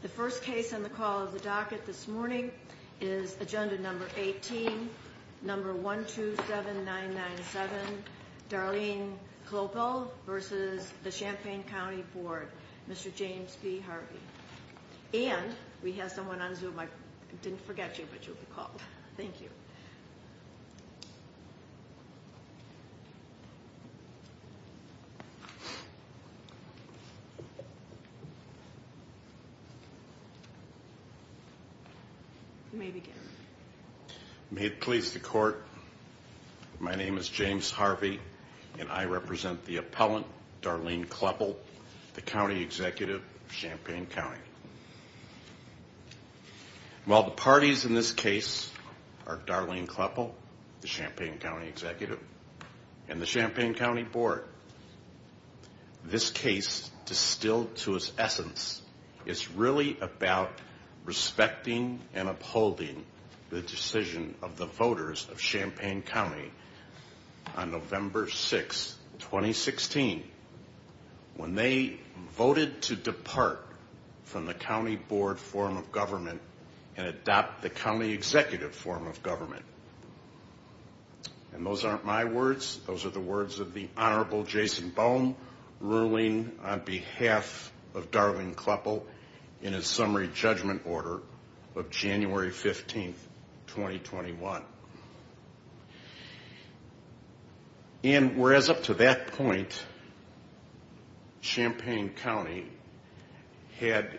The first case on the call of the docket this morning is Agenda No. 18, No. 127997, Darlene Kloeppel v. Champaign County Board, Mr. James P. Harvey. And we have someone on Zoom, I didn't forget you, but you'll be called. Thank you. You may begin. May it please the Court, my name is James Harvey and I represent the appellant, Darlene Kloeppel, the County Executive of Champaign County. While the parties in this case are Darlene Kloeppel, the Champaign County Executive, and the Champaign County Board, this case, distilled to its essence, is really about respecting and upholding the decision of the voters of Champaign County on November 6, 2016, when they voted to depart from the County Board form of government and adopt the County Executive form of government. And those aren't my words, those are the words of the Honorable Jason Boehm, ruling on behalf of Darlene Kloeppel in a summary judgment order of January 15, 2021. And whereas up to that point, Champaign County had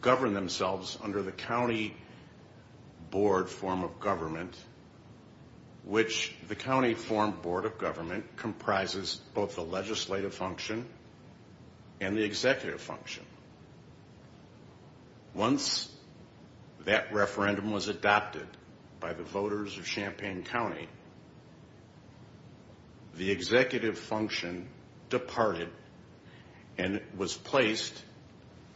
governed themselves under the County Board form of government, which the County Form Board of Government comprises both the legislative function and the executive function. Once that referendum was adopted by the voters of Champaign County, the executive function departed and was placed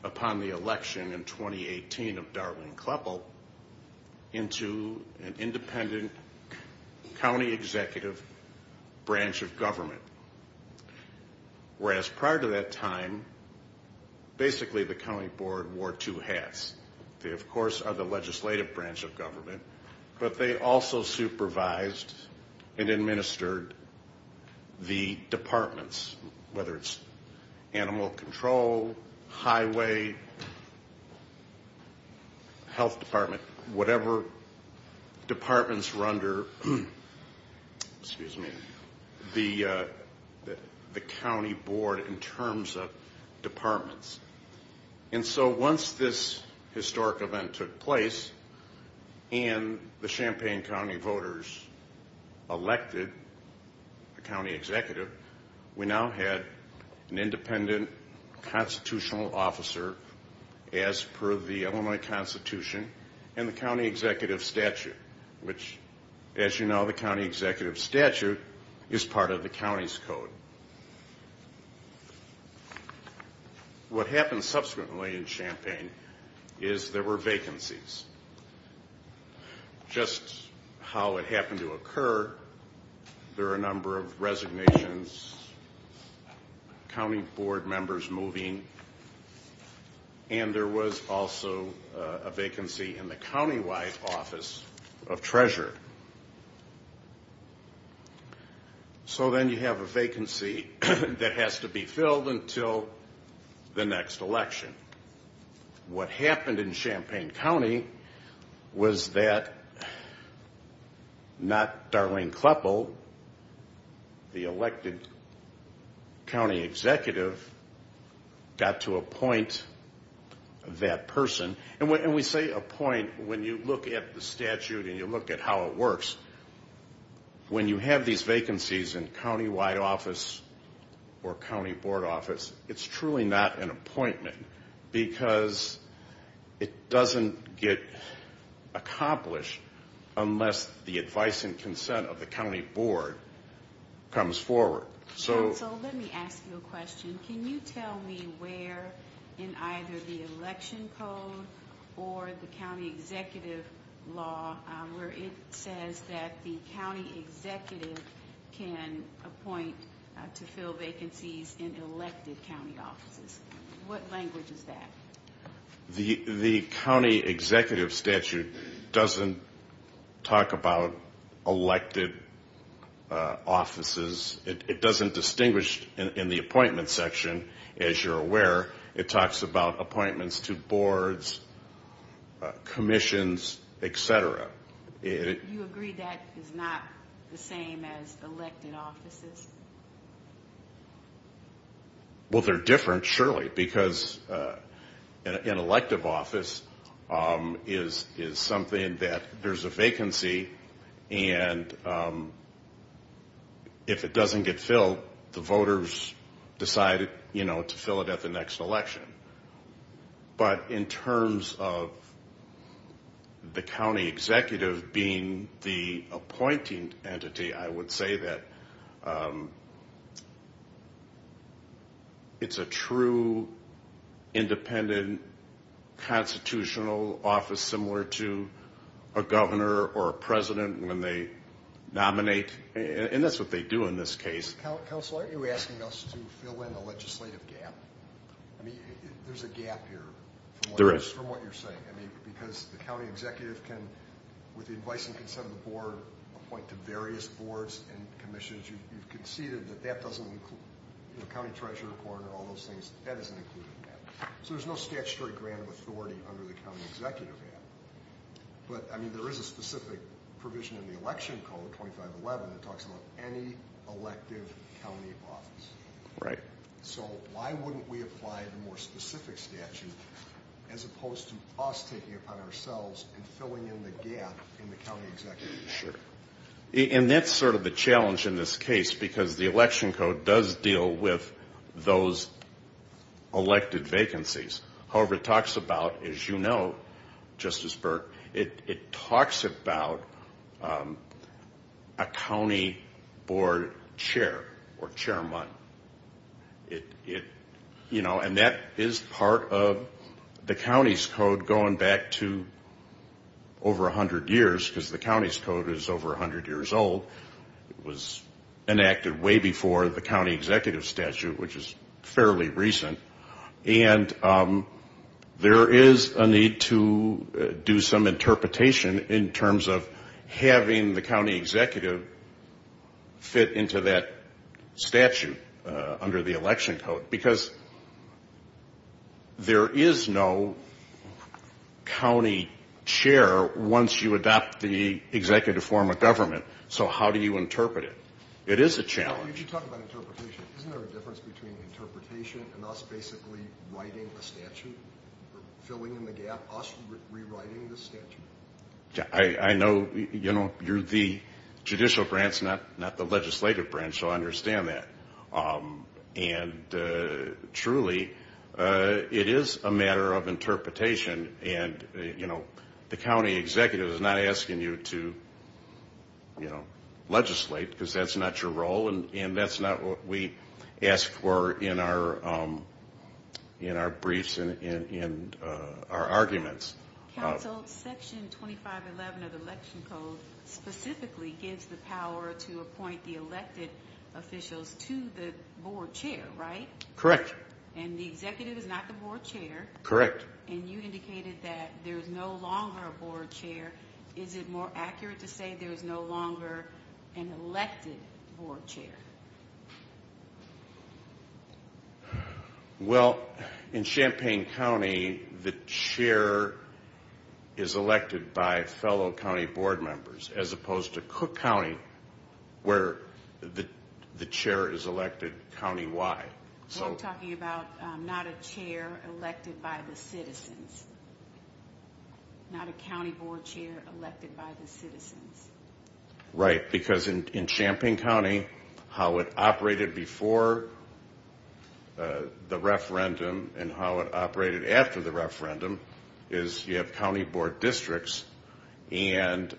upon the election in 2018 of Darlene Kloeppel into an independent County Executive branch of government. Whereas prior to that time, basically the County Board wore two hats. They of course are the legislative branch of government, but they also supervised and administered the departments, whether it's animal control, highway, health department, whatever departments were under the County Board in terms of departments. And so once this historic event took place and the Champaign County voters elected the County Executive, we now had an independent constitutional officer as per the Illinois Constitution and the County Executive statute, which as you know, the County Executive statute is part of the county's code. What happened subsequently in Champaign is there were vacancies. Just how it happened to occur, there are a number of resignations, County Board members moving, and there was also a vacancy in the county-wide office of treasurer. So then you have a vacancy that has to be filled until the next election. What happened in Champaign County was that not Darlene Kloeppel, the elected County Executive, got to appoint that person. And we say appoint when you look at the statute and you look at how it works. When you have these vacancies in county-wide office or county board office, it's truly not an appointment because it doesn't get accomplished unless the advice and consent of the County Board comes forward. So let me ask you a question. Can you tell me where in either the election code or the County Executive law where it says that the County Executive can appoint to fill vacancies in elected county offices? What language is that? The County Executive statute doesn't talk about elected offices. It doesn't distinguish in the appointment section, as you're aware. It talks about appointments to boards, commissions, etc. You agree that is not the same as elected offices? Well, they're different, surely, because an elective office is something that there's a vacancy, and if it doesn't get filled, the voters decide to fill it at the next election. But in terms of the County Executive being the appointing entity, I would say that it's a true, independent, constitutional office similar to a governor or a president when they nominate. And that's what they do in this case. Are you asking us to fill in a legislative gap? I mean, there's a gap here from what you're saying. Because the County Executive can, with the advice and consent of the board, appoint to various boards and commissions. You've conceded that that doesn't include county treasurer, coroner, all those things. That isn't included in that. So there's no statutory grant of authority under the County Executive Act. But, I mean, there is a specific provision in the Election Code, 2511, that talks about any elective county office. So why wouldn't we apply the more specific statute as opposed to us taking it upon ourselves and filling in the gap in the County Executive Act? And that's sort of the challenge in this case, because the Election Code does deal with those elected vacancies. However, it talks about, as you know, Justice Burke, it talks about a county board chair or chairman. And that is part of the county's code going back to over 100 years, because the county's code is over 100 years old. It was enacted way before the county executive statute, which is fairly recent. And there is a need to do some interpretation in terms of having the county executive fit into that statute under the Election Code. Because there is no county chair once you adopt the executive form of government. So how do you interpret it? It is a challenge. If you talk about interpretation, isn't there a difference between interpretation and us basically writing a statute, filling in the gap, us rewriting the statute? I know you're the judicial branch, not the legislative branch, so I understand that. And truly, it is a matter of interpretation. The county executive is not asking you to legislate, because that's not your role. And that's not what we ask for in our briefs and in our arguments. Counsel, Section 2511 of the Election Code specifically gives the power to appoint the elected officials to the board chair, right? Correct. And the executive is not the board chair. You stated that there is no longer a board chair. Is it more accurate to say there is no longer an elected board chair? Well, in Champaign County, the chair is elected by fellow county board members, as opposed to Cook County, where the chair is elected county-wide. We're talking about not a chair elected by the citizens, not a county board chair elected by the citizens. Right, because in Champaign County, how it operated before the referendum and how it operated after the referendum is you have county board districts, and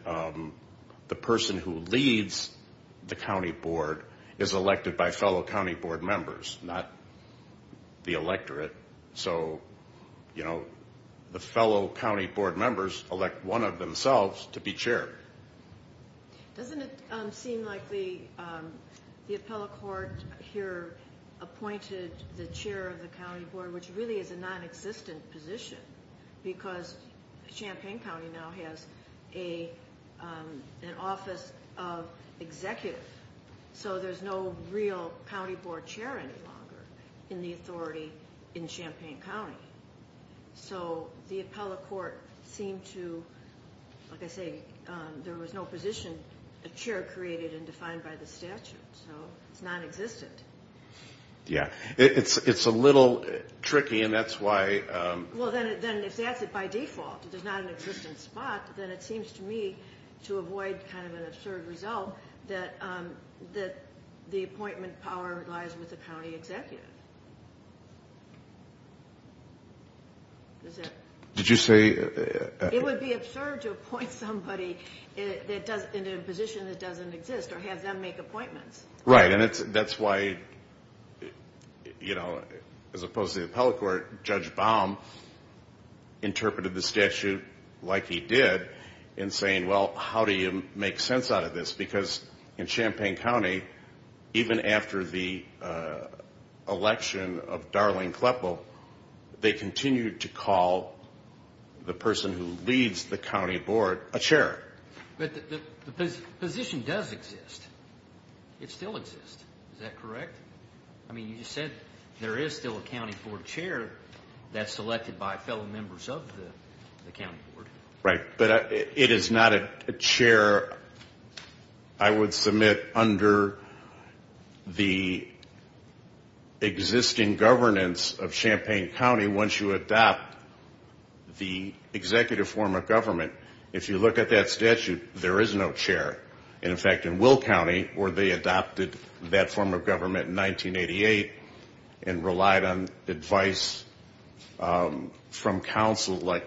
the person who leads the county board is elected by fellow county board members, not the electorate. So, you know, the fellow county board members elect one of themselves to be chair. Doesn't it seem like the appellate court here appointed the chair of the county board, which really is a non-existent position, because Champaign County now has an office of executive, so there's no real county board chair any longer in the authority in Champaign County. So the appellate court seemed to, like I say, there was no position, a chair created and defined by the statute, so it's non-existent. Yeah, it's a little tricky, and that's why... Well, then if that's it by default, if there's not an existent spot, then it seems to me to avoid kind of an absurd result that the appointment power lies with the county executive. Did you say... It would be absurd to appoint somebody in a position that doesn't exist or have them make appointments. Right, and that's why, you know, as opposed to the appellate court, Judge Baum interpreted the statute like he did in saying, well, how do you make sense out of this, because in Champaign County, even after the election of Darlene Kleppel, they continued to call the person who leads the county board a chair. But the position does exist. It still exists. Is that correct? I mean, you just said there is still a county board chair that's selected by fellow members of the county board. Right, but it is not a chair I would submit under the existing governance of Champaign County once you adopt the executive form of government. If you look at that statute, there is no chair. And in fact, in Will County, where they adopted that form of government in 1988 and relied on advice from counsel like,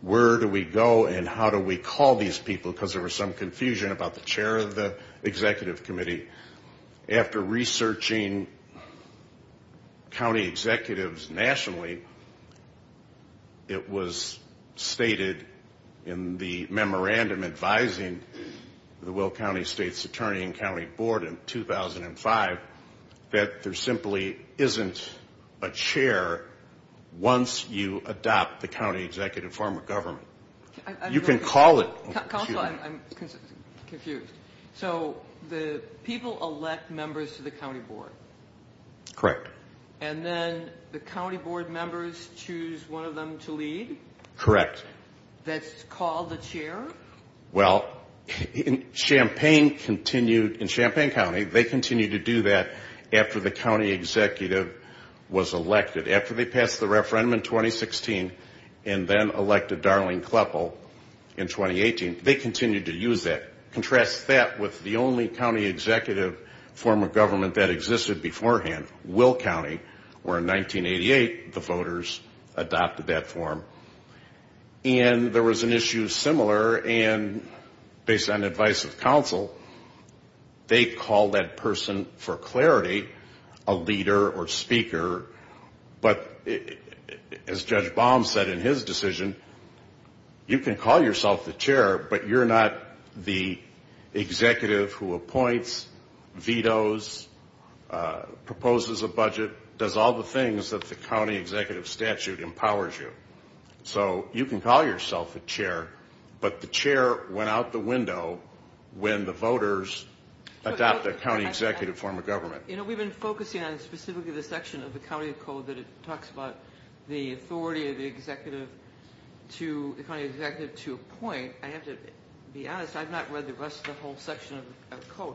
where do we go and how do we call these people, because there was some confusion about the chair of the executive committee. After researching county executives nationally, it was stated in the memorandum advising the Will County State's Attorney and County Board in 2005 that there simply isn't a chair once you adopt the county executive form of government. You can call it. Counsel, I'm confused. So the people elect members to the county board? Correct. And then the county board members choose one of them to lead? Correct. That's called the chair? Well, in Champaign County, they continued to do that after the county executive was elected. After they passed the referendum in 2016 and then elected Darlene Kleppel in 2018, they continued to use that. Contrast that with the only county executive form of government that existed beforehand, Will County, where in 1988 the voters adopted that form. And there was an issue similar, and based on advice of counsel, they called that person for clarity a leader or speaker. But as Judge Baum said in his decision, you can call yourself the chair, but you're not the executive who appoints, vetoes, proposes a budget, does all the things that the county executive statute empowers you. So you can call yourself a chair, but the chair went out the window when the voters adopted the county executive form of government. You know, we've been focusing on specifically the section of the county code that talks about the authority of the county executive to appoint. I have to be honest, I've not read the rest of the whole section of the code.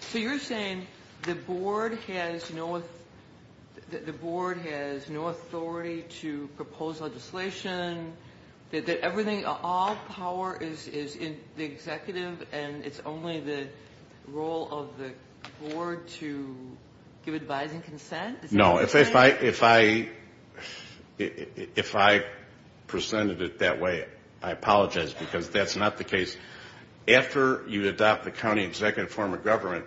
So you're saying the board has no authority to propose legislation, that all power is in the executive and it's only the role of the board to give advice and consent? No, if I presented it that way, I apologize, because that's not the case. After you adopt the county executive form of government,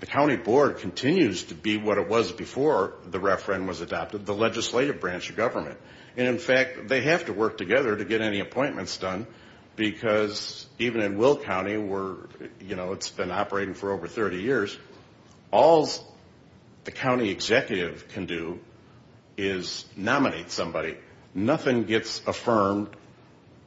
the county board continues to be what it was before the referendum was adopted, the legislative branch of government. And in fact, they have to work together to get any appointments done, because even in Will County, where it's been operating for over 30 years, all the county executive can do is nominate somebody. Nothing gets affirmed.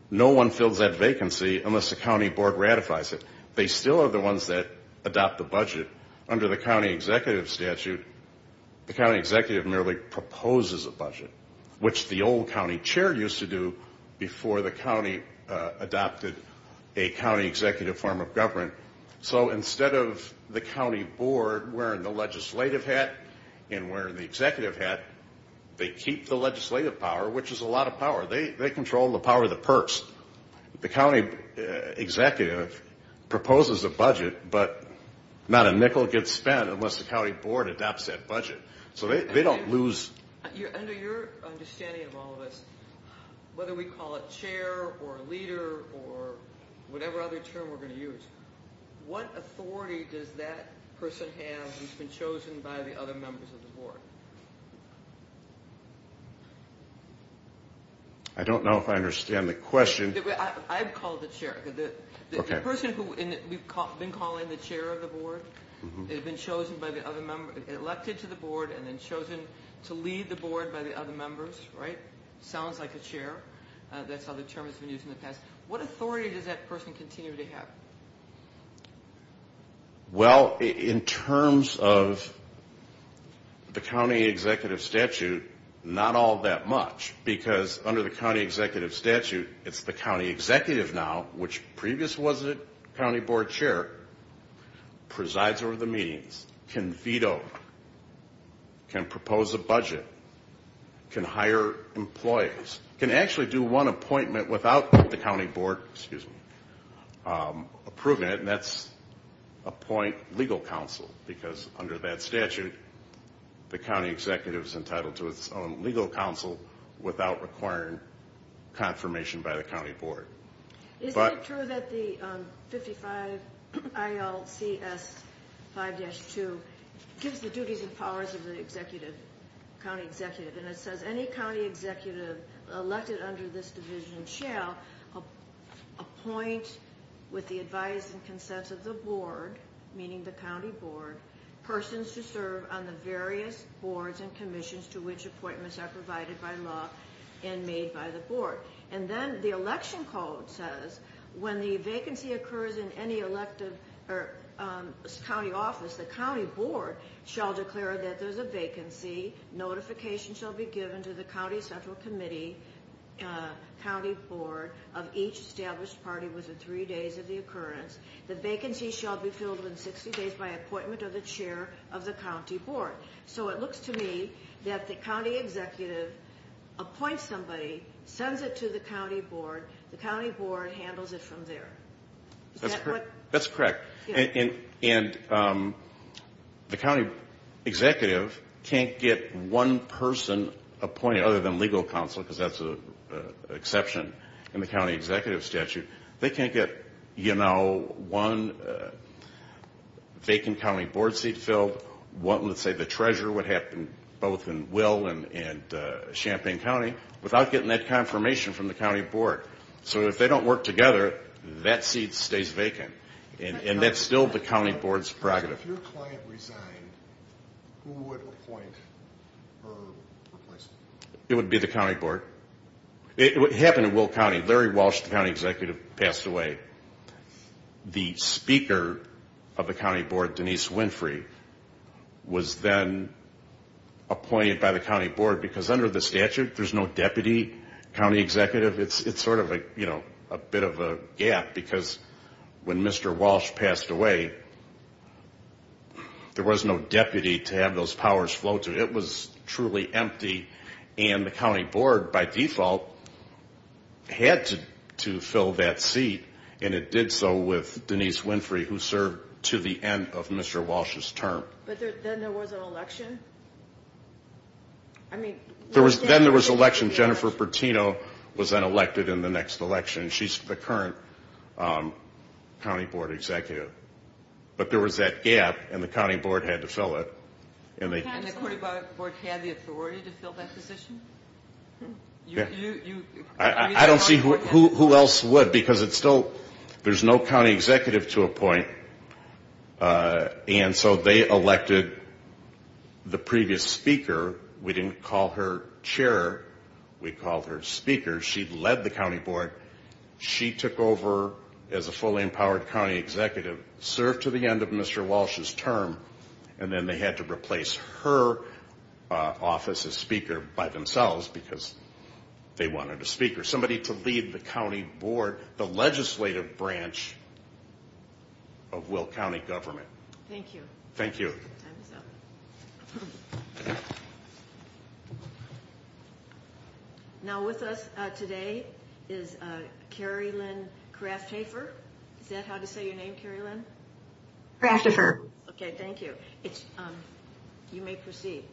No one fills that vacancy unless the county board ratifies it. They still are the ones that adopt the budget. Under the county executive statute, the county executive merely proposes a budget, which the old county chair used to do before the county adopted a county executive form of government. So instead of the county board wearing the legislative hat and wearing the executive hat, they keep the legislative power, which is a lot of power. They control the power of the perks. The county executive proposes a budget, but not a nickel gets spent unless the county board adopts that budget. So they don't lose... Under your understanding of all of this, whether we call it chair or leader or whatever other term we're going to use, what authority does that person have who's been chosen by the other members of the board? I don't know if I understand the question. I'd call it the chair. Okay. The person who we've been calling the chair of the board, has been elected to the board and then chosen to lead the board by the other members, right? Sounds like a chair. That's how the term has been used in the past. What authority does that person continue to have? Well, in terms of the county executive statute, not all that much. Because under the county executive statute, it's the county executive now, which previously was the county board chair, presides over the meetings, can veto, can propose a budget, can hire employees. Can actually do one appointment without the county board approving it, and that's appoint legal counsel. Because under that statute, the county executive is entitled to its own legal counsel without requiring confirmation by the county board. Is it true that the 55 ILCS 5-2 gives the duties and powers of the county executive? And it says, any county executive elected under this division shall appoint, with the advice and consent of the board, meaning the county board, persons to serve on the various boards and commissions to which appointments are provided by law and made by the board. And then the election code says, when the vacancy occurs in any elective or county office, the county board shall declare that there's a vacancy. Notification shall be given to the county central committee, county board of each established party within three days of the occurrence. The vacancy shall be filled within 60 days by appointment of the chair of the county board. So it looks to me that the county executive appoints somebody, sends it to the county board, the county board handles it from there. That's correct. And the county executive can't get one person appointed other than legal counsel, because that's an exception in the county executive statute. They can't get, you know, one vacant county board seat filled, one, let's say the treasurer, what happened both in Will and Champaign County, without getting that confirmation from the county board. So if they don't work together, that seat stays vacant. And that's still the county board's prerogative. If your client resigned, who would appoint or replace them? It would be the county board. It happened in Will County. Larry Walsh, the county executive, passed away. The speaker of the county board, Denise Winfrey, was then appointed by the county board, because under the statute, there's no deputy county executive. It's sort of a bit of a gap, because when Mr. Walsh passed away, there was no deputy to have those powers flow to. It was truly empty. And the county board, by default, had to fill that seat, and it did so with Denise Winfrey, who served to the end of Mr. Walsh's term. But then there was an election? I mean, was there an election? Then there was an election. Jennifer Pertino was then elected in the next election. She's the current county board executive. But there was that gap, and the county board had to fill it. And the county board had the authority to fill that position? I don't see who else would, because there's no county executive to appoint, and so they elected the previous speaker. We didn't call her chair. We called her speaker. She led the county board. She took over as a fully empowered county executive, served to the end of Mr. Walsh's term, and then they had to replace her office as speaker by themselves, because they wanted a speaker, somebody to lead the county board, the legislative branch of Will County government. Thank you. Thank you. Now with us today is Carrie Lynn Krafthafer. Is that how to say your name, Carrie Lynn? Krafthafer. Okay, thank you. You may proceed.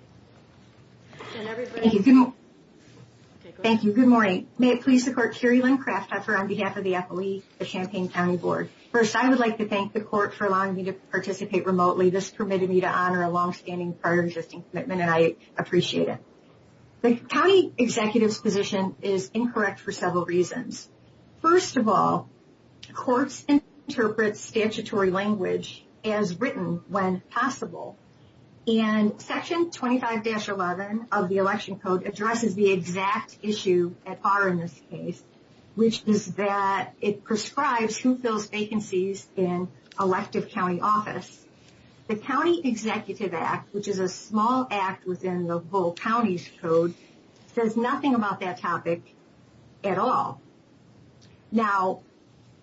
Thank you. Good morning. May it please the court, Carrie Lynn Krafthafer on behalf of the FLE, the Champaign County Board. First, I would like to thank the court for allowing me to participate remotely. This permitted me to honor a longstanding, prior existing commitment, and I appreciate it. The county executive's position is incorrect for several reasons. First of all, courts interpret statutory language as written when possible. And section 25-11 of the election code addresses the exact issue at par in this case, which is that it prescribes who fills vacancies in elective county office. The County Executive Act, which is a small act within the whole county's code, says nothing about that topic at all. Now,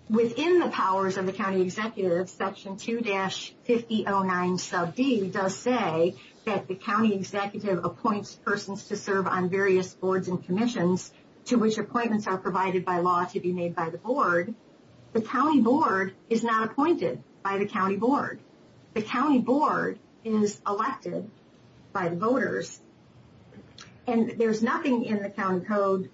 within the powers of the county executive, section 2-5009 sub D does say that the county executive appoints persons to serve on various boards and commissions to which appointments are provided by law to be made by the board. The county board is not appointed by the county board. The county board is elected by the voters. And there's nothing in the county code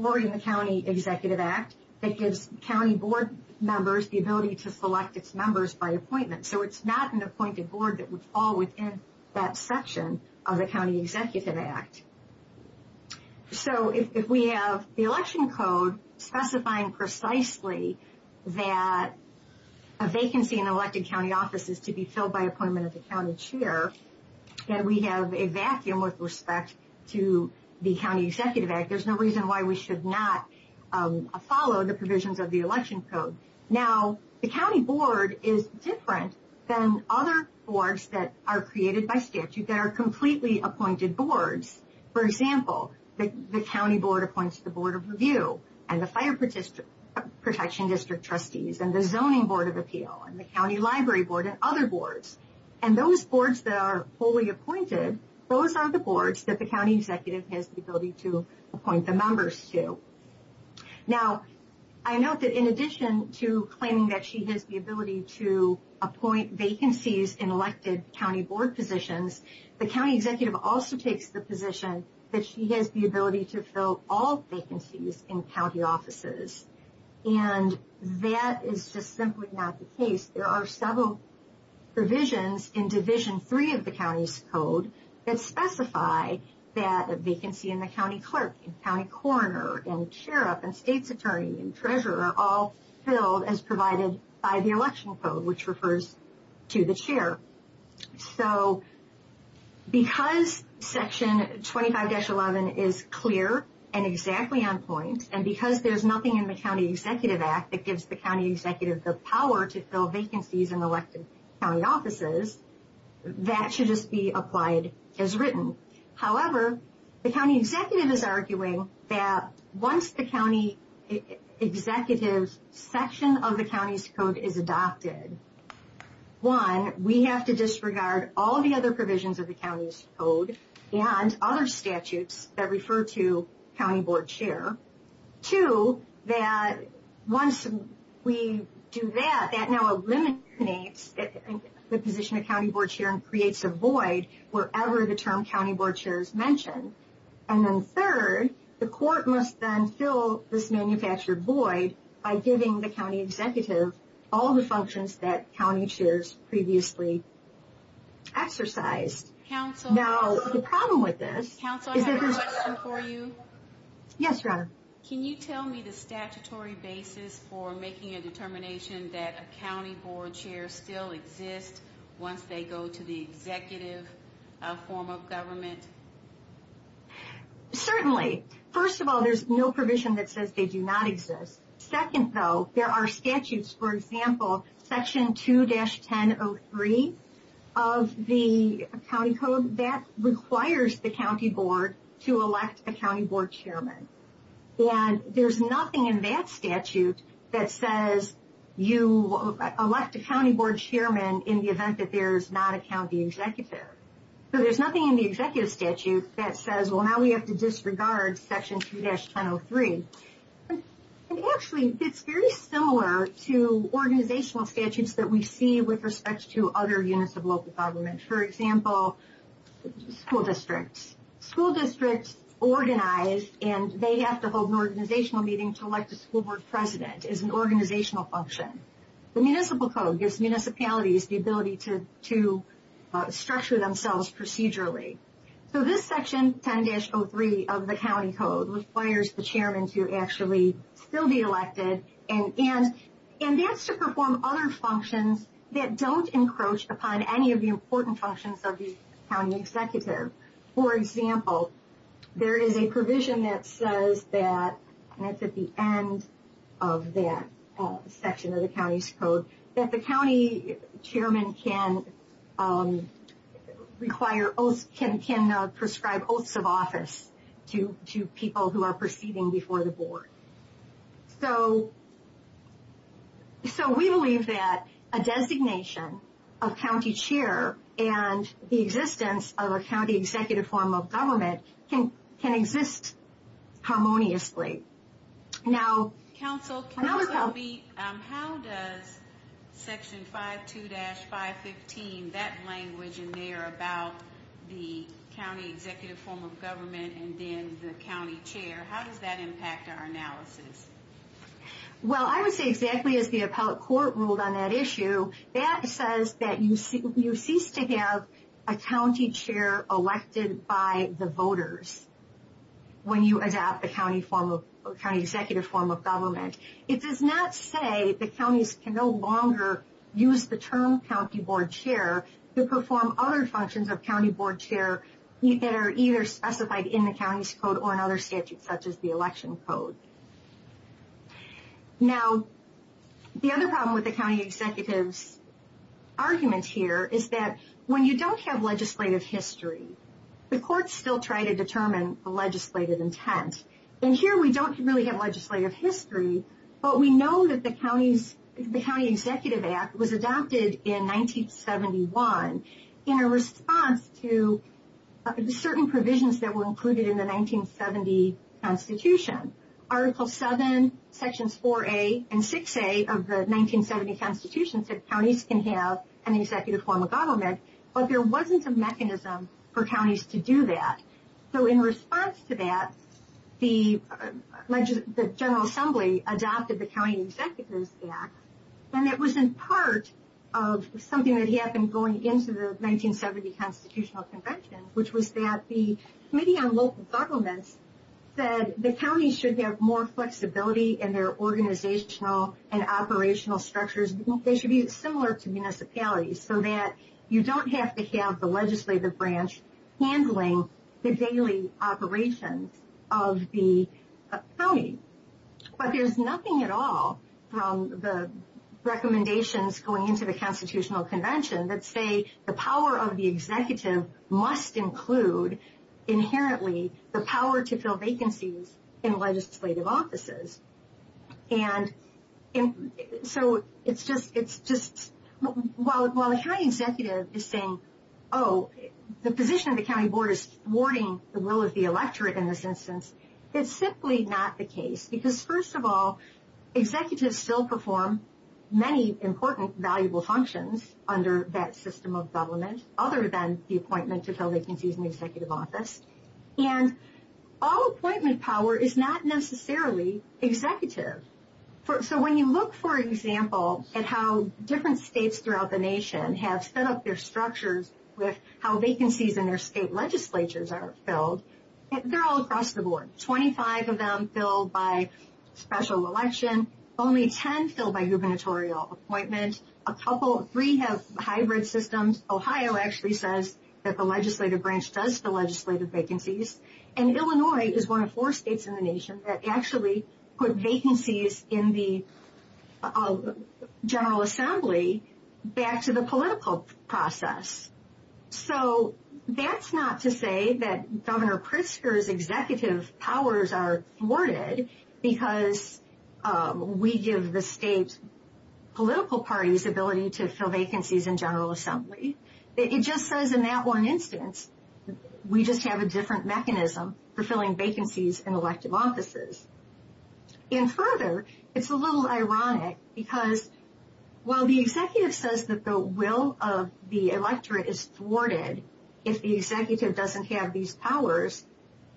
or in the County Executive Act that gives county board members the ability to select its members by appointment. So it's not an appointed board that would fall within that section of the County Executive Act. So if we have the election code specifying precisely that a vacancy in elected county office is to be filled by appointment of the county chair, then we have a vacuum with respect to the County Executive Act. There's no reason why we should not follow the provisions of the election code. Now, the county board is different than other boards that are created by statute that are completely appointed boards. For example, the county board appoints the Board of Review and the Fire Protection District Trustees and the Zoning Board of Appeal and the County Library Board and other boards. And those boards that are fully appointed, those are the boards that the county executive has the ability to appoint the members to. Now, I note that in addition to claiming that she has the ability to appoint vacancies in elected county board positions, the county executive also takes the position that she has the ability to fill all vacancies in county offices. And that is just simply not the case. There are several provisions in Division 3 of the county's code that specify that a vacancy in the county clerk and county coroner and sheriff and state's attorney and treasurer are all filled as provided by the election code, which refers to the chair. So because Section 25-11 is clear and exactly on point, and because there's nothing in the County Executive Act that gives the county executive the power to fill vacancies in elected county offices, that should just be applied as written. However, the county executive is arguing that once the county executive's section of the county's code is adopted, one, we have to disregard all the other provisions of the county's code and other statutes that refer to county board chair. Two, that once we do that, that now eliminates the position of county board chair and creates a void wherever the term county board chair is mentioned. And then third, the court must then fill this manufactured void by giving the county executive all the functions that county chairs previously exercised. Now, the problem with this... Counsel, I have a question for you. Yes, Ronna. Can you tell me the statutory basis for making a determination that a county board chair still exists once they go to the executive form of government? Certainly. First of all, there's no provision that says they do not exist. Second, though, there are statutes, for example, Section 2-1003 of the county code that requires the county board to elect a county board chairman. And there's nothing in that statute that says you elect a county board chairman in the event that there is not a county executive. So there's nothing in the executive statute that says, well, now we have to disregard Section 2-1003. Actually, it's very similar to organizational statutes that we see with respect to other units of local government. For example, school districts. School districts organize, and they have to hold an organizational meeting to elect a school board president as an organizational function. The municipal code gives municipalities the ability to structure themselves procedurally. So this Section 10-03 of the county code requires the chairman to actually still be elected, and that's to perform other functions that don't encroach upon any of the important functions of the county executive. For example, there is a provision that says that, and it's at the end of that section of the county's code, that the county chairman can prescribe oaths of office to people who are proceeding before the board. So we believe that a designation of county chair and the existence of a county executive form of government can exist harmoniously. Now... How does Section 5-2-515, that language in there about the county executive form of government and then the county chair, how does that impact our analysis? Well, I would say exactly as the appellate court ruled on that issue, that says that you cease to have a county chair elected by the voters when you adopt the county executive form of government. It does not say the counties can no longer use the term county board chair to perform other functions of county board chair that are either specified in the county's code or in other statutes such as the election code. Now, the other problem with the county executive's argument here is that when you don't have legislative history, the courts still try to determine the legislative intent. And here we don't really have legislative history, but we know that the County Executive Act was adopted in 1971 in a response to certain provisions that were included in the 1970 Constitution. Article 7, Sections 4A and 6A of the 1970 Constitution said that there wasn't a mechanism for counties to do that. So in response to that, the General Assembly adopted the County Executives Act and it was in part of something that happened going into the 1970 Constitutional Convention, which was that the Committee on Local Governments said the counties should have more flexibility in their organizational and operational structures. They should be similar to municipalities so that you don't have to have the legislative branch handling the daily operations of the county. But there's nothing at all from the recommendations going into the Constitutional Convention that say the power of the executive must include inherently the power to fill vacancies in legislative offices. And so it's just, while the county executive is saying, oh, the position of the county board is thwarting the will of the electorate in this instance, it's simply not the case because first of all, executives still perform many important valuable functions under that system of government other than the appointment to fill vacancies in the executive office. And all appointment power is not necessarily executive. So when you look, for example, at how different states throughout the nation have set up their structures with how vacancies in their state legislatures are filled, they're all across the board, 25 of them filled by special election, only 10 filled by gubernatorial appointment, a couple, three have hybrid systems. Ohio actually says that the legislative branch does the legislative vacancies. And Illinois is one of four states in the nation that actually put vacancies in the General Assembly back to the political process. So that's not to say that Governor Pritzker's executive powers are thwarted because we give the state political parties ability to fill vacancies in General Assembly. It just says in that one instance, we just have a different mechanism for filling vacancies in elective offices. And further, it's a little ironic because while the executive says that the will of the electorate is thwarted, if the executive doesn't have these powers,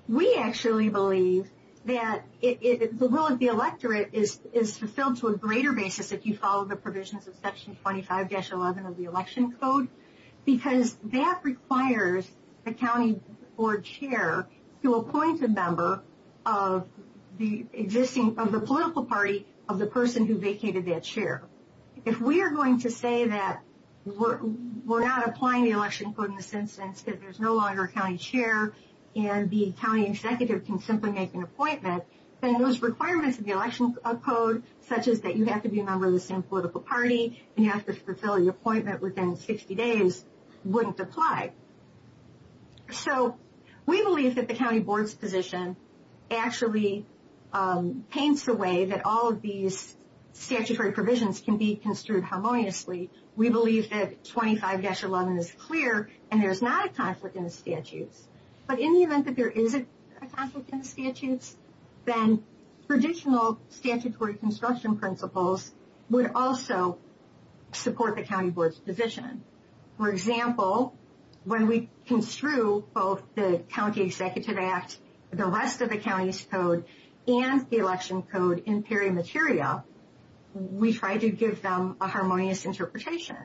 we actually believe that the will of the electorate is fulfilled to a greater basis if you follow the provisions of Section 25-11 of the Election Code, because that requires the county board chair to appoint a member of the existing, of the political party of the person who vacated that chair. If we are going to say that we're not applying the Election Code in this instance because there's no longer a county chair and the county executive can simply make an appointment, then those requirements of the Election Code, such as that you have to be a member of the same political party and you have to fulfill your appointment within 60 days, wouldn't apply. So we believe that the county board's position actually paints a way that all of these statutory provisions can be construed harmoniously. We believe that 25-11 is clear and there's not a conflict in the statutes. But in the event that there is a conflict in the statutes, then traditional statutory construction principles would also support the county board's position. For example, when we construe both the County Executive Act, the rest of the county's code, and the Election Code in peri materia, we try to give them a harmonious interpretation.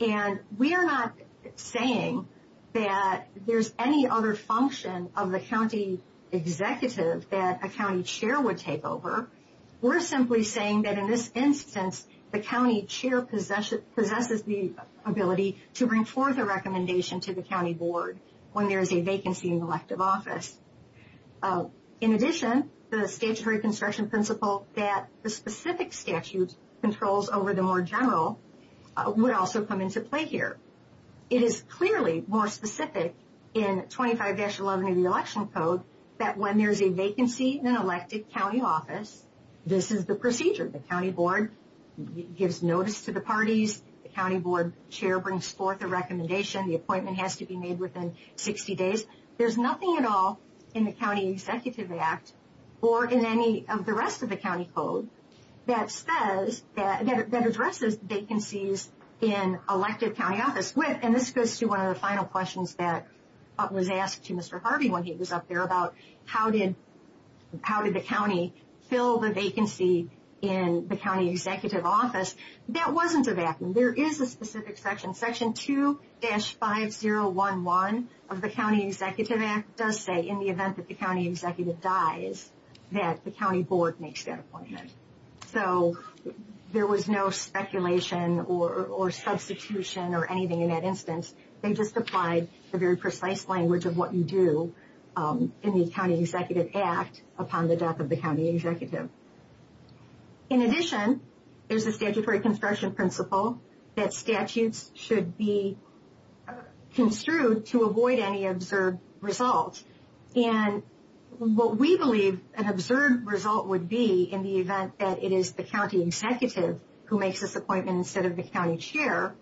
And we are not saying that there's any other function of the county executive that a county chair would take over. We're simply saying that in this instance, the county chair possesses the ability to bring forth a recommendation to the county board when there is a vacancy in the elective office. In addition, the statutory construction principle that the specific statute controls over the more general would also come into play here. It is clearly more specific in 25-11 of the Election Code that when there's a vacancy in an elective county office, this is the procedure. The county board gives notice to the parties. The county board chair brings forth a recommendation. The appointment has to be made within 60 days. There's nothing at all in the County Executive Act or in any of the rest of the county code that addresses vacancies in elective county office. And this goes to one of the final questions that was asked to Mr. Harvey when he was up there about how did the county fill the vacancy in the county executive office. That wasn't a vacuum. There is a specific section. Section 2-5011 of the County Executive Act does say in the event that the county executive dies, that the county board makes that appointment. So there was no speculation or substitution or anything in that instance. They just applied the very precise language of what you do in the County Executive Act upon the death of the county executive. In addition, there's a statutory construction principle that statutes should be construed to avoid any observed results. And what we believe an observed result would be in the event that it is the county executive who makes this appointment instead of the county chair,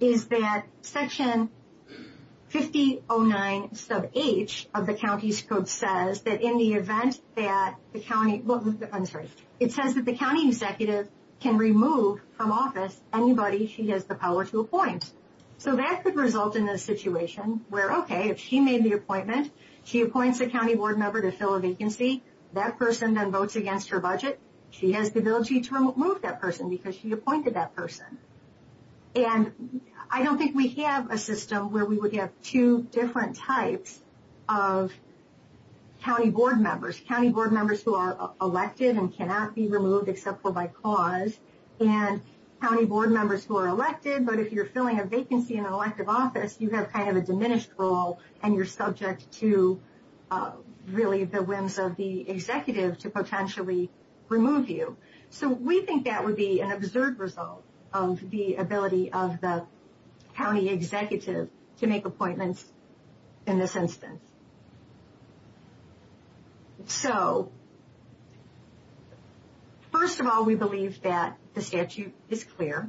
is that section 5009 sub H of the county's code says that in the event that the county, I'm sorry, it says that the county executive can remove from office anybody she has the power to appoint. So that could result in a situation where, okay, if she made the appointment, she appoints a county board member to fill a vacancy. That person then votes against her budget. She has the ability to remove that person because she appointed that person. And I don't think we have a system where we would have two different types of county board members, county board members who are elected and cannot be removed except for by cause, and county board members who are elected, but if you're filling a vacancy in an elective office, you have kind of a diminished role and you're subject to really the whims of the executive to potentially remove you. So we think that would be an observed result of the ability of the county executive to make appointments in this instance. So, first of all, we believe that the statute is clear.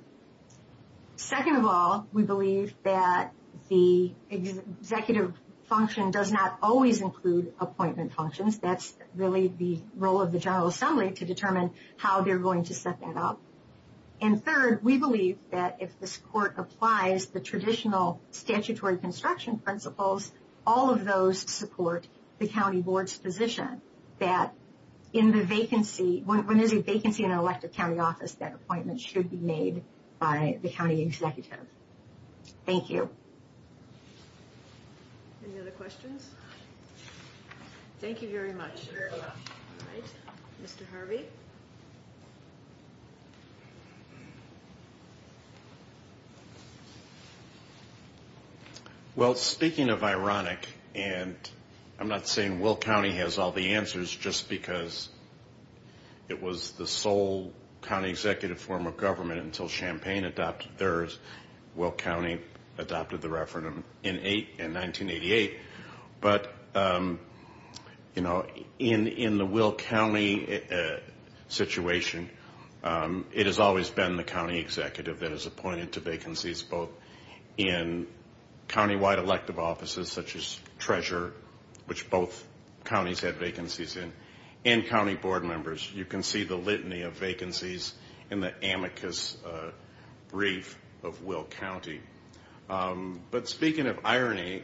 Second of all, we believe that the executive function does not always include appointment functions. That's really the role of the General Assembly to determine how they're going to set that up. And third, we believe that if this court applies the traditional statutory construction principles, all of those support the county board's position that in the vacancy, when there's a vacancy in an elective county office, that appointment should be made by the county executive. Thank you. Any other questions? Thank you very much. Mr. Harvey? Well, speaking of ironic, and I'm not saying Will County has all the answers just because it was the sole county executive form of government until Champaign adopted theirs. Will County adopted the referendum in 1988. But, you know, in the Will County situation, it has always been the county executive that has appointed to vacancies both in countywide elective offices, such as Treasure, which both counties have vacancies in, and county board members. You can see the litany of vacancies in the amicus brief of Will County. But speaking of irony,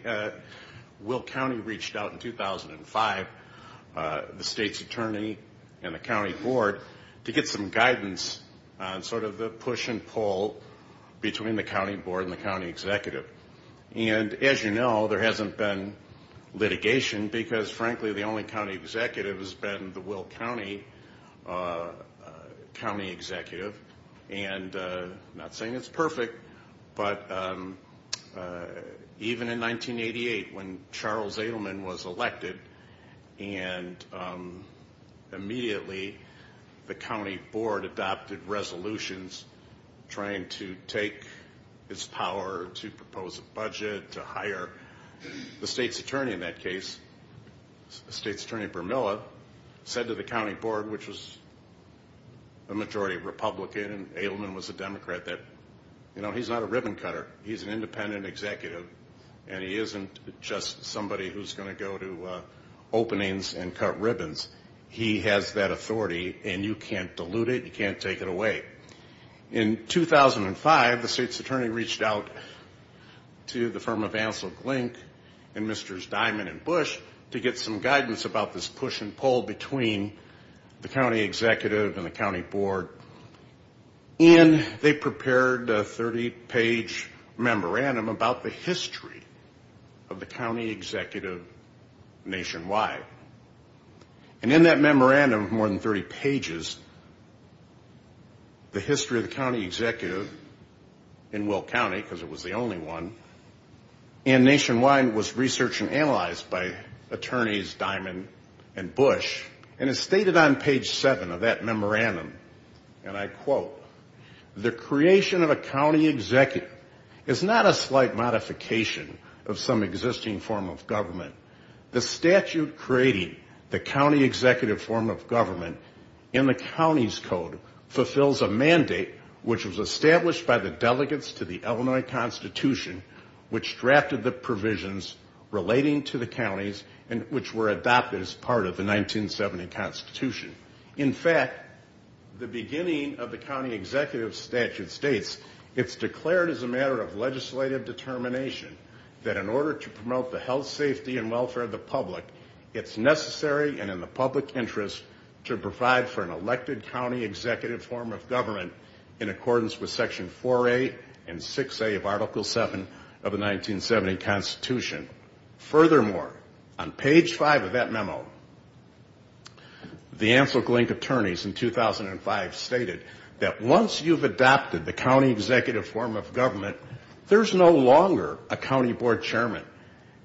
Will County reached out in 2005, the state's attorney and the county board, to get some guidance on sort of the push and pull between the county board and the county executive. And as you know, there hasn't been litigation because, frankly, the only county executive has been the Will County county executive. And I'm not saying it's perfect, but even in 1988 when Charles Adelman was elected and immediately the county board adopted resolutions trying to take its power to propose a budget, to hire the state's attorney in that case, the state's attorney Vermilla, said to the county board, which was a majority Republican, and Adelman was a Democrat, that, you know, he's not a ribbon cutter. He's an independent executive, and he isn't just somebody who's going to go to openings and cut ribbons. He has that authority, and you can't dilute it. You can't take it away. In 2005, the state's attorney reached out to the firm of Ansel Glink and Mr. Diamond and Bush to get some guidance about this push and pull between the county executive and the county board. And they prepared a 30-page memorandum about the history of the county executive nationwide. And in that memorandum of more than 30 pages, the history of the county executive in Will County, because it was the only one, and nationwide was researched and analyzed by attorneys Diamond and Bush. And it's stated on page seven of that memorandum, and I quote, the creation of a county executive is not a slight modification of some existing form of government. The statute creating the county executive form of government in the county's code fulfills a mandate which was established by the delegates to the Illinois Constitution which drafted the provisions relating to the counties and which were adopted as part of the 1970 Constitution. In fact, the beginning of the county executive statute states, it's declared as a matter of legislative determination that in order to promote the health, safety, and welfare of the public, it's necessary and in the public interest to provide for an elected county executive form of government in accordance with section 4A and 6A of Article 7 of the 1970 Constitution. Furthermore, on page five of that memo, the Ansel Glink attorneys in 2005 stated that once you've adopted the county executive form of government, there's no longer a county board chairman.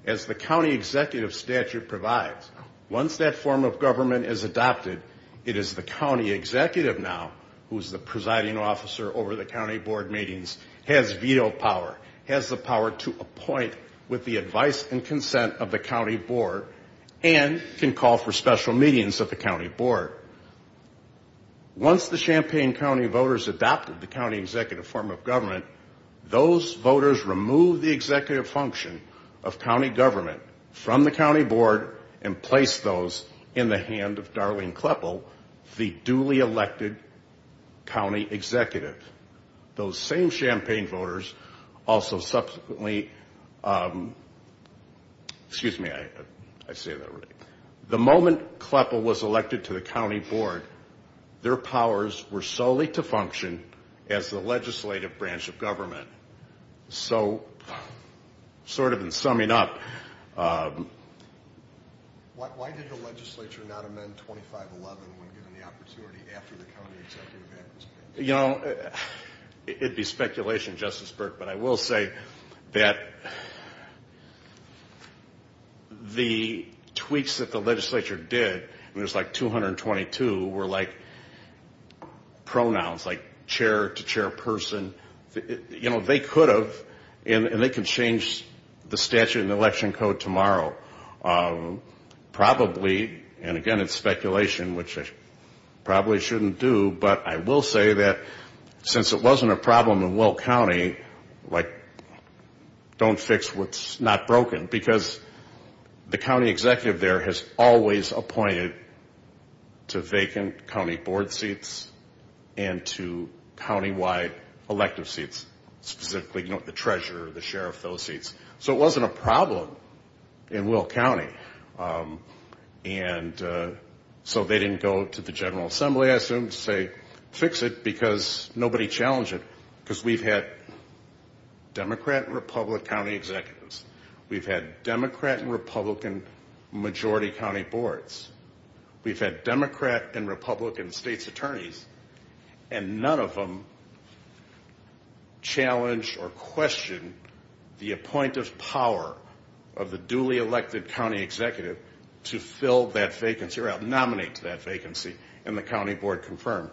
As the county executive statute provides, once that form of government is adopted, it is the county executive now who is the presiding officer over the county board meetings, has veto power, has the power to appoint with the advice and consent of the county board, and can call for special meetings of the county board. Once the Champaign County voters adopted the county executive form of government, those voters removed the executive function of county government from the county board and placed those in the hand of Darlene Kleppel, the duly elected county executive. Those same Champaign voters also subsequently, excuse me, I say that already. The moment Kleppel was elected to the county board, their powers were solely to function as the legislative branch of government. So, sort of in summing up. Why did the legislature not amend 2511 when given the opportunity after the county executive act was passed? You know, it'd be speculation, Justice Burke, but I will say that the tweaks that the legislature did, and there's like 222, were like pronouns, like chair to chairperson. You know, they could have, and they can change the statute and election code tomorrow. Probably, and again it's speculation, which I probably shouldn't do, but I will say that since it wasn't a problem in Will County, like, don't fix what's not broken. Because the county executive there has always appointed to vacant county board seats and to countywide elective seats. Specifically, you know, the treasurer, the sheriff, those seats. So it wasn't a problem in Will County. And so they didn't go to the General Assembly, I assume, to say fix it because nobody challenged it. Because we've had Democrat and Republican county executives. We've had Democrat and Republican majority county boards. We've had Democrat and Republican state's attorneys, and none of them challenged or questioned the appointive power of the duly elected county executive to fill that vacancy, or nominate to that vacancy, and the county board confirmed.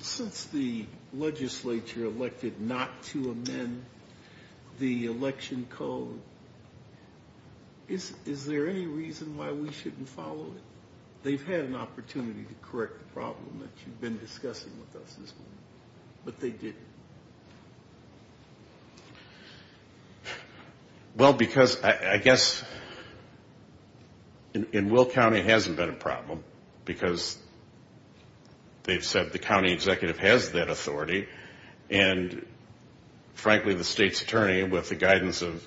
Since the legislature elected not to amend the election code, is there any reason why we shouldn't follow it? They've had an opportunity to correct the problem that you've been discussing with us this morning, but they didn't. Well, because I guess in Will County it hasn't been a problem because they've said the county executive has that authority. And, frankly, the state's attorney, with the guidance of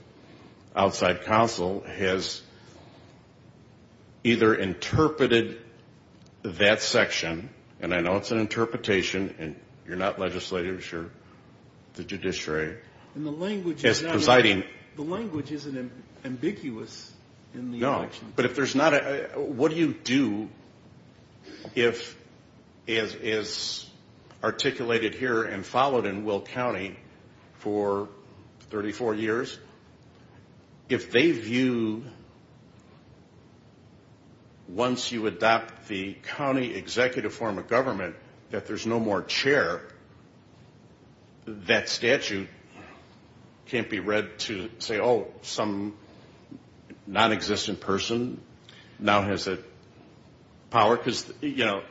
outside counsel, has either interpreted that section, and I know it's an interpretation, and you're not legislature, you're the judiciary, as presiding. The language isn't ambiguous in the election. No, but if there's not a – what do you do if it's articulated here and followed in Will County for 34 years? If they view, once you adopt the county executive form of government, that there's no more chair, that statute can't be read to say, oh, some nonexistent person now has power. Because, you know,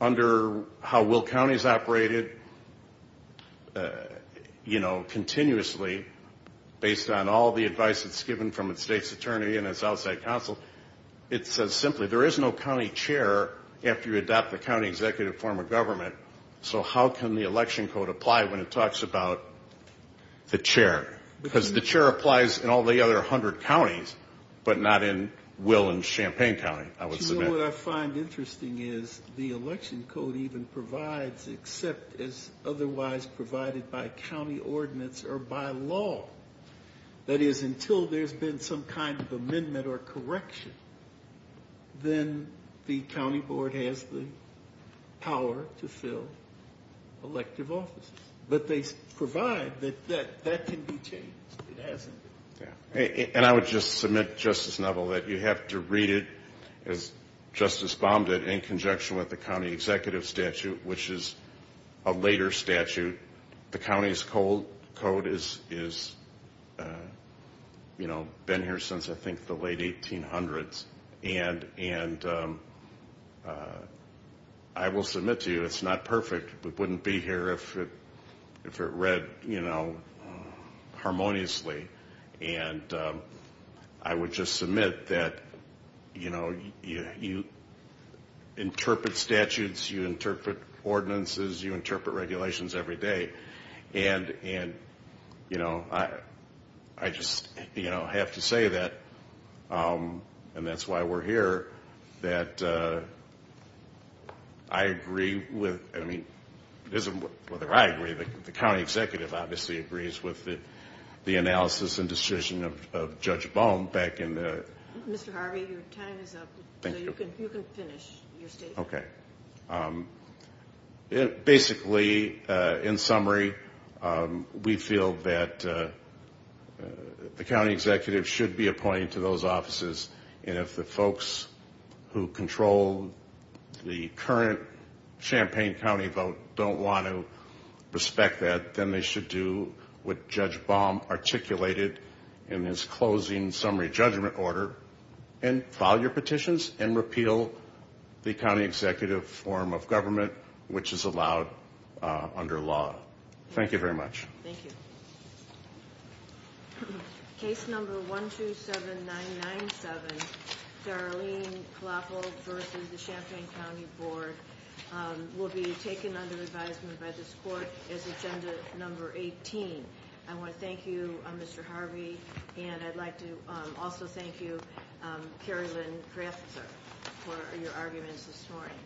under how Will County's operated, you know, continuously, based on all the advice that's given from its state's attorney and its outside counsel, it says simply, there is no county chair after you adopt the county executive form of government, so how can the election code apply when it talks about the chair? Because the chair applies in all the other 100 counties, but not in Will and Champaign County, I would submit. And that's what I find interesting is the election code even provides, except as otherwise provided by county ordinance or by law, that is until there's been some kind of amendment or correction, then the county board has the power to fill elective offices. But they provide that that can be changed. It hasn't been. And I would just submit, Justice Neville, that you have to read it as Justice Baum did, in conjunction with the county executive statute, which is a later statute. The county's code has been here since, I think, the late 1800s. And I will submit to you it's not perfect. It wouldn't be here if it read, you know, harmoniously. And I would just submit that, you know, you interpret statutes, you interpret ordinances, you interpret regulations every day. And, you know, I just have to say that, and that's why we're here, that I agree with, I mean, it isn't whether I agree, but the county executive obviously agrees with the analysis and decision of Judge Baum back in the... Mr. Harvey, your time is up. Thank you. You can finish your statement. Okay. Basically, in summary, we feel that the county executive should be appointed to those offices. And if the folks who control the current Champaign County vote don't want to respect that, then they should do what Judge Baum articulated in his closing summary judgment order and file your petitions and repeal the county executive form of government, which is allowed under law. Thank you very much. Thank you. Case number 127997, Darlene Klafel versus the Champaign County Board, will be taken under advisement by this court as agenda number 18. I want to thank you, Mr. Harvey, and I'd like to also thank you, Carrie Lynn Craftser, for your arguments this morning.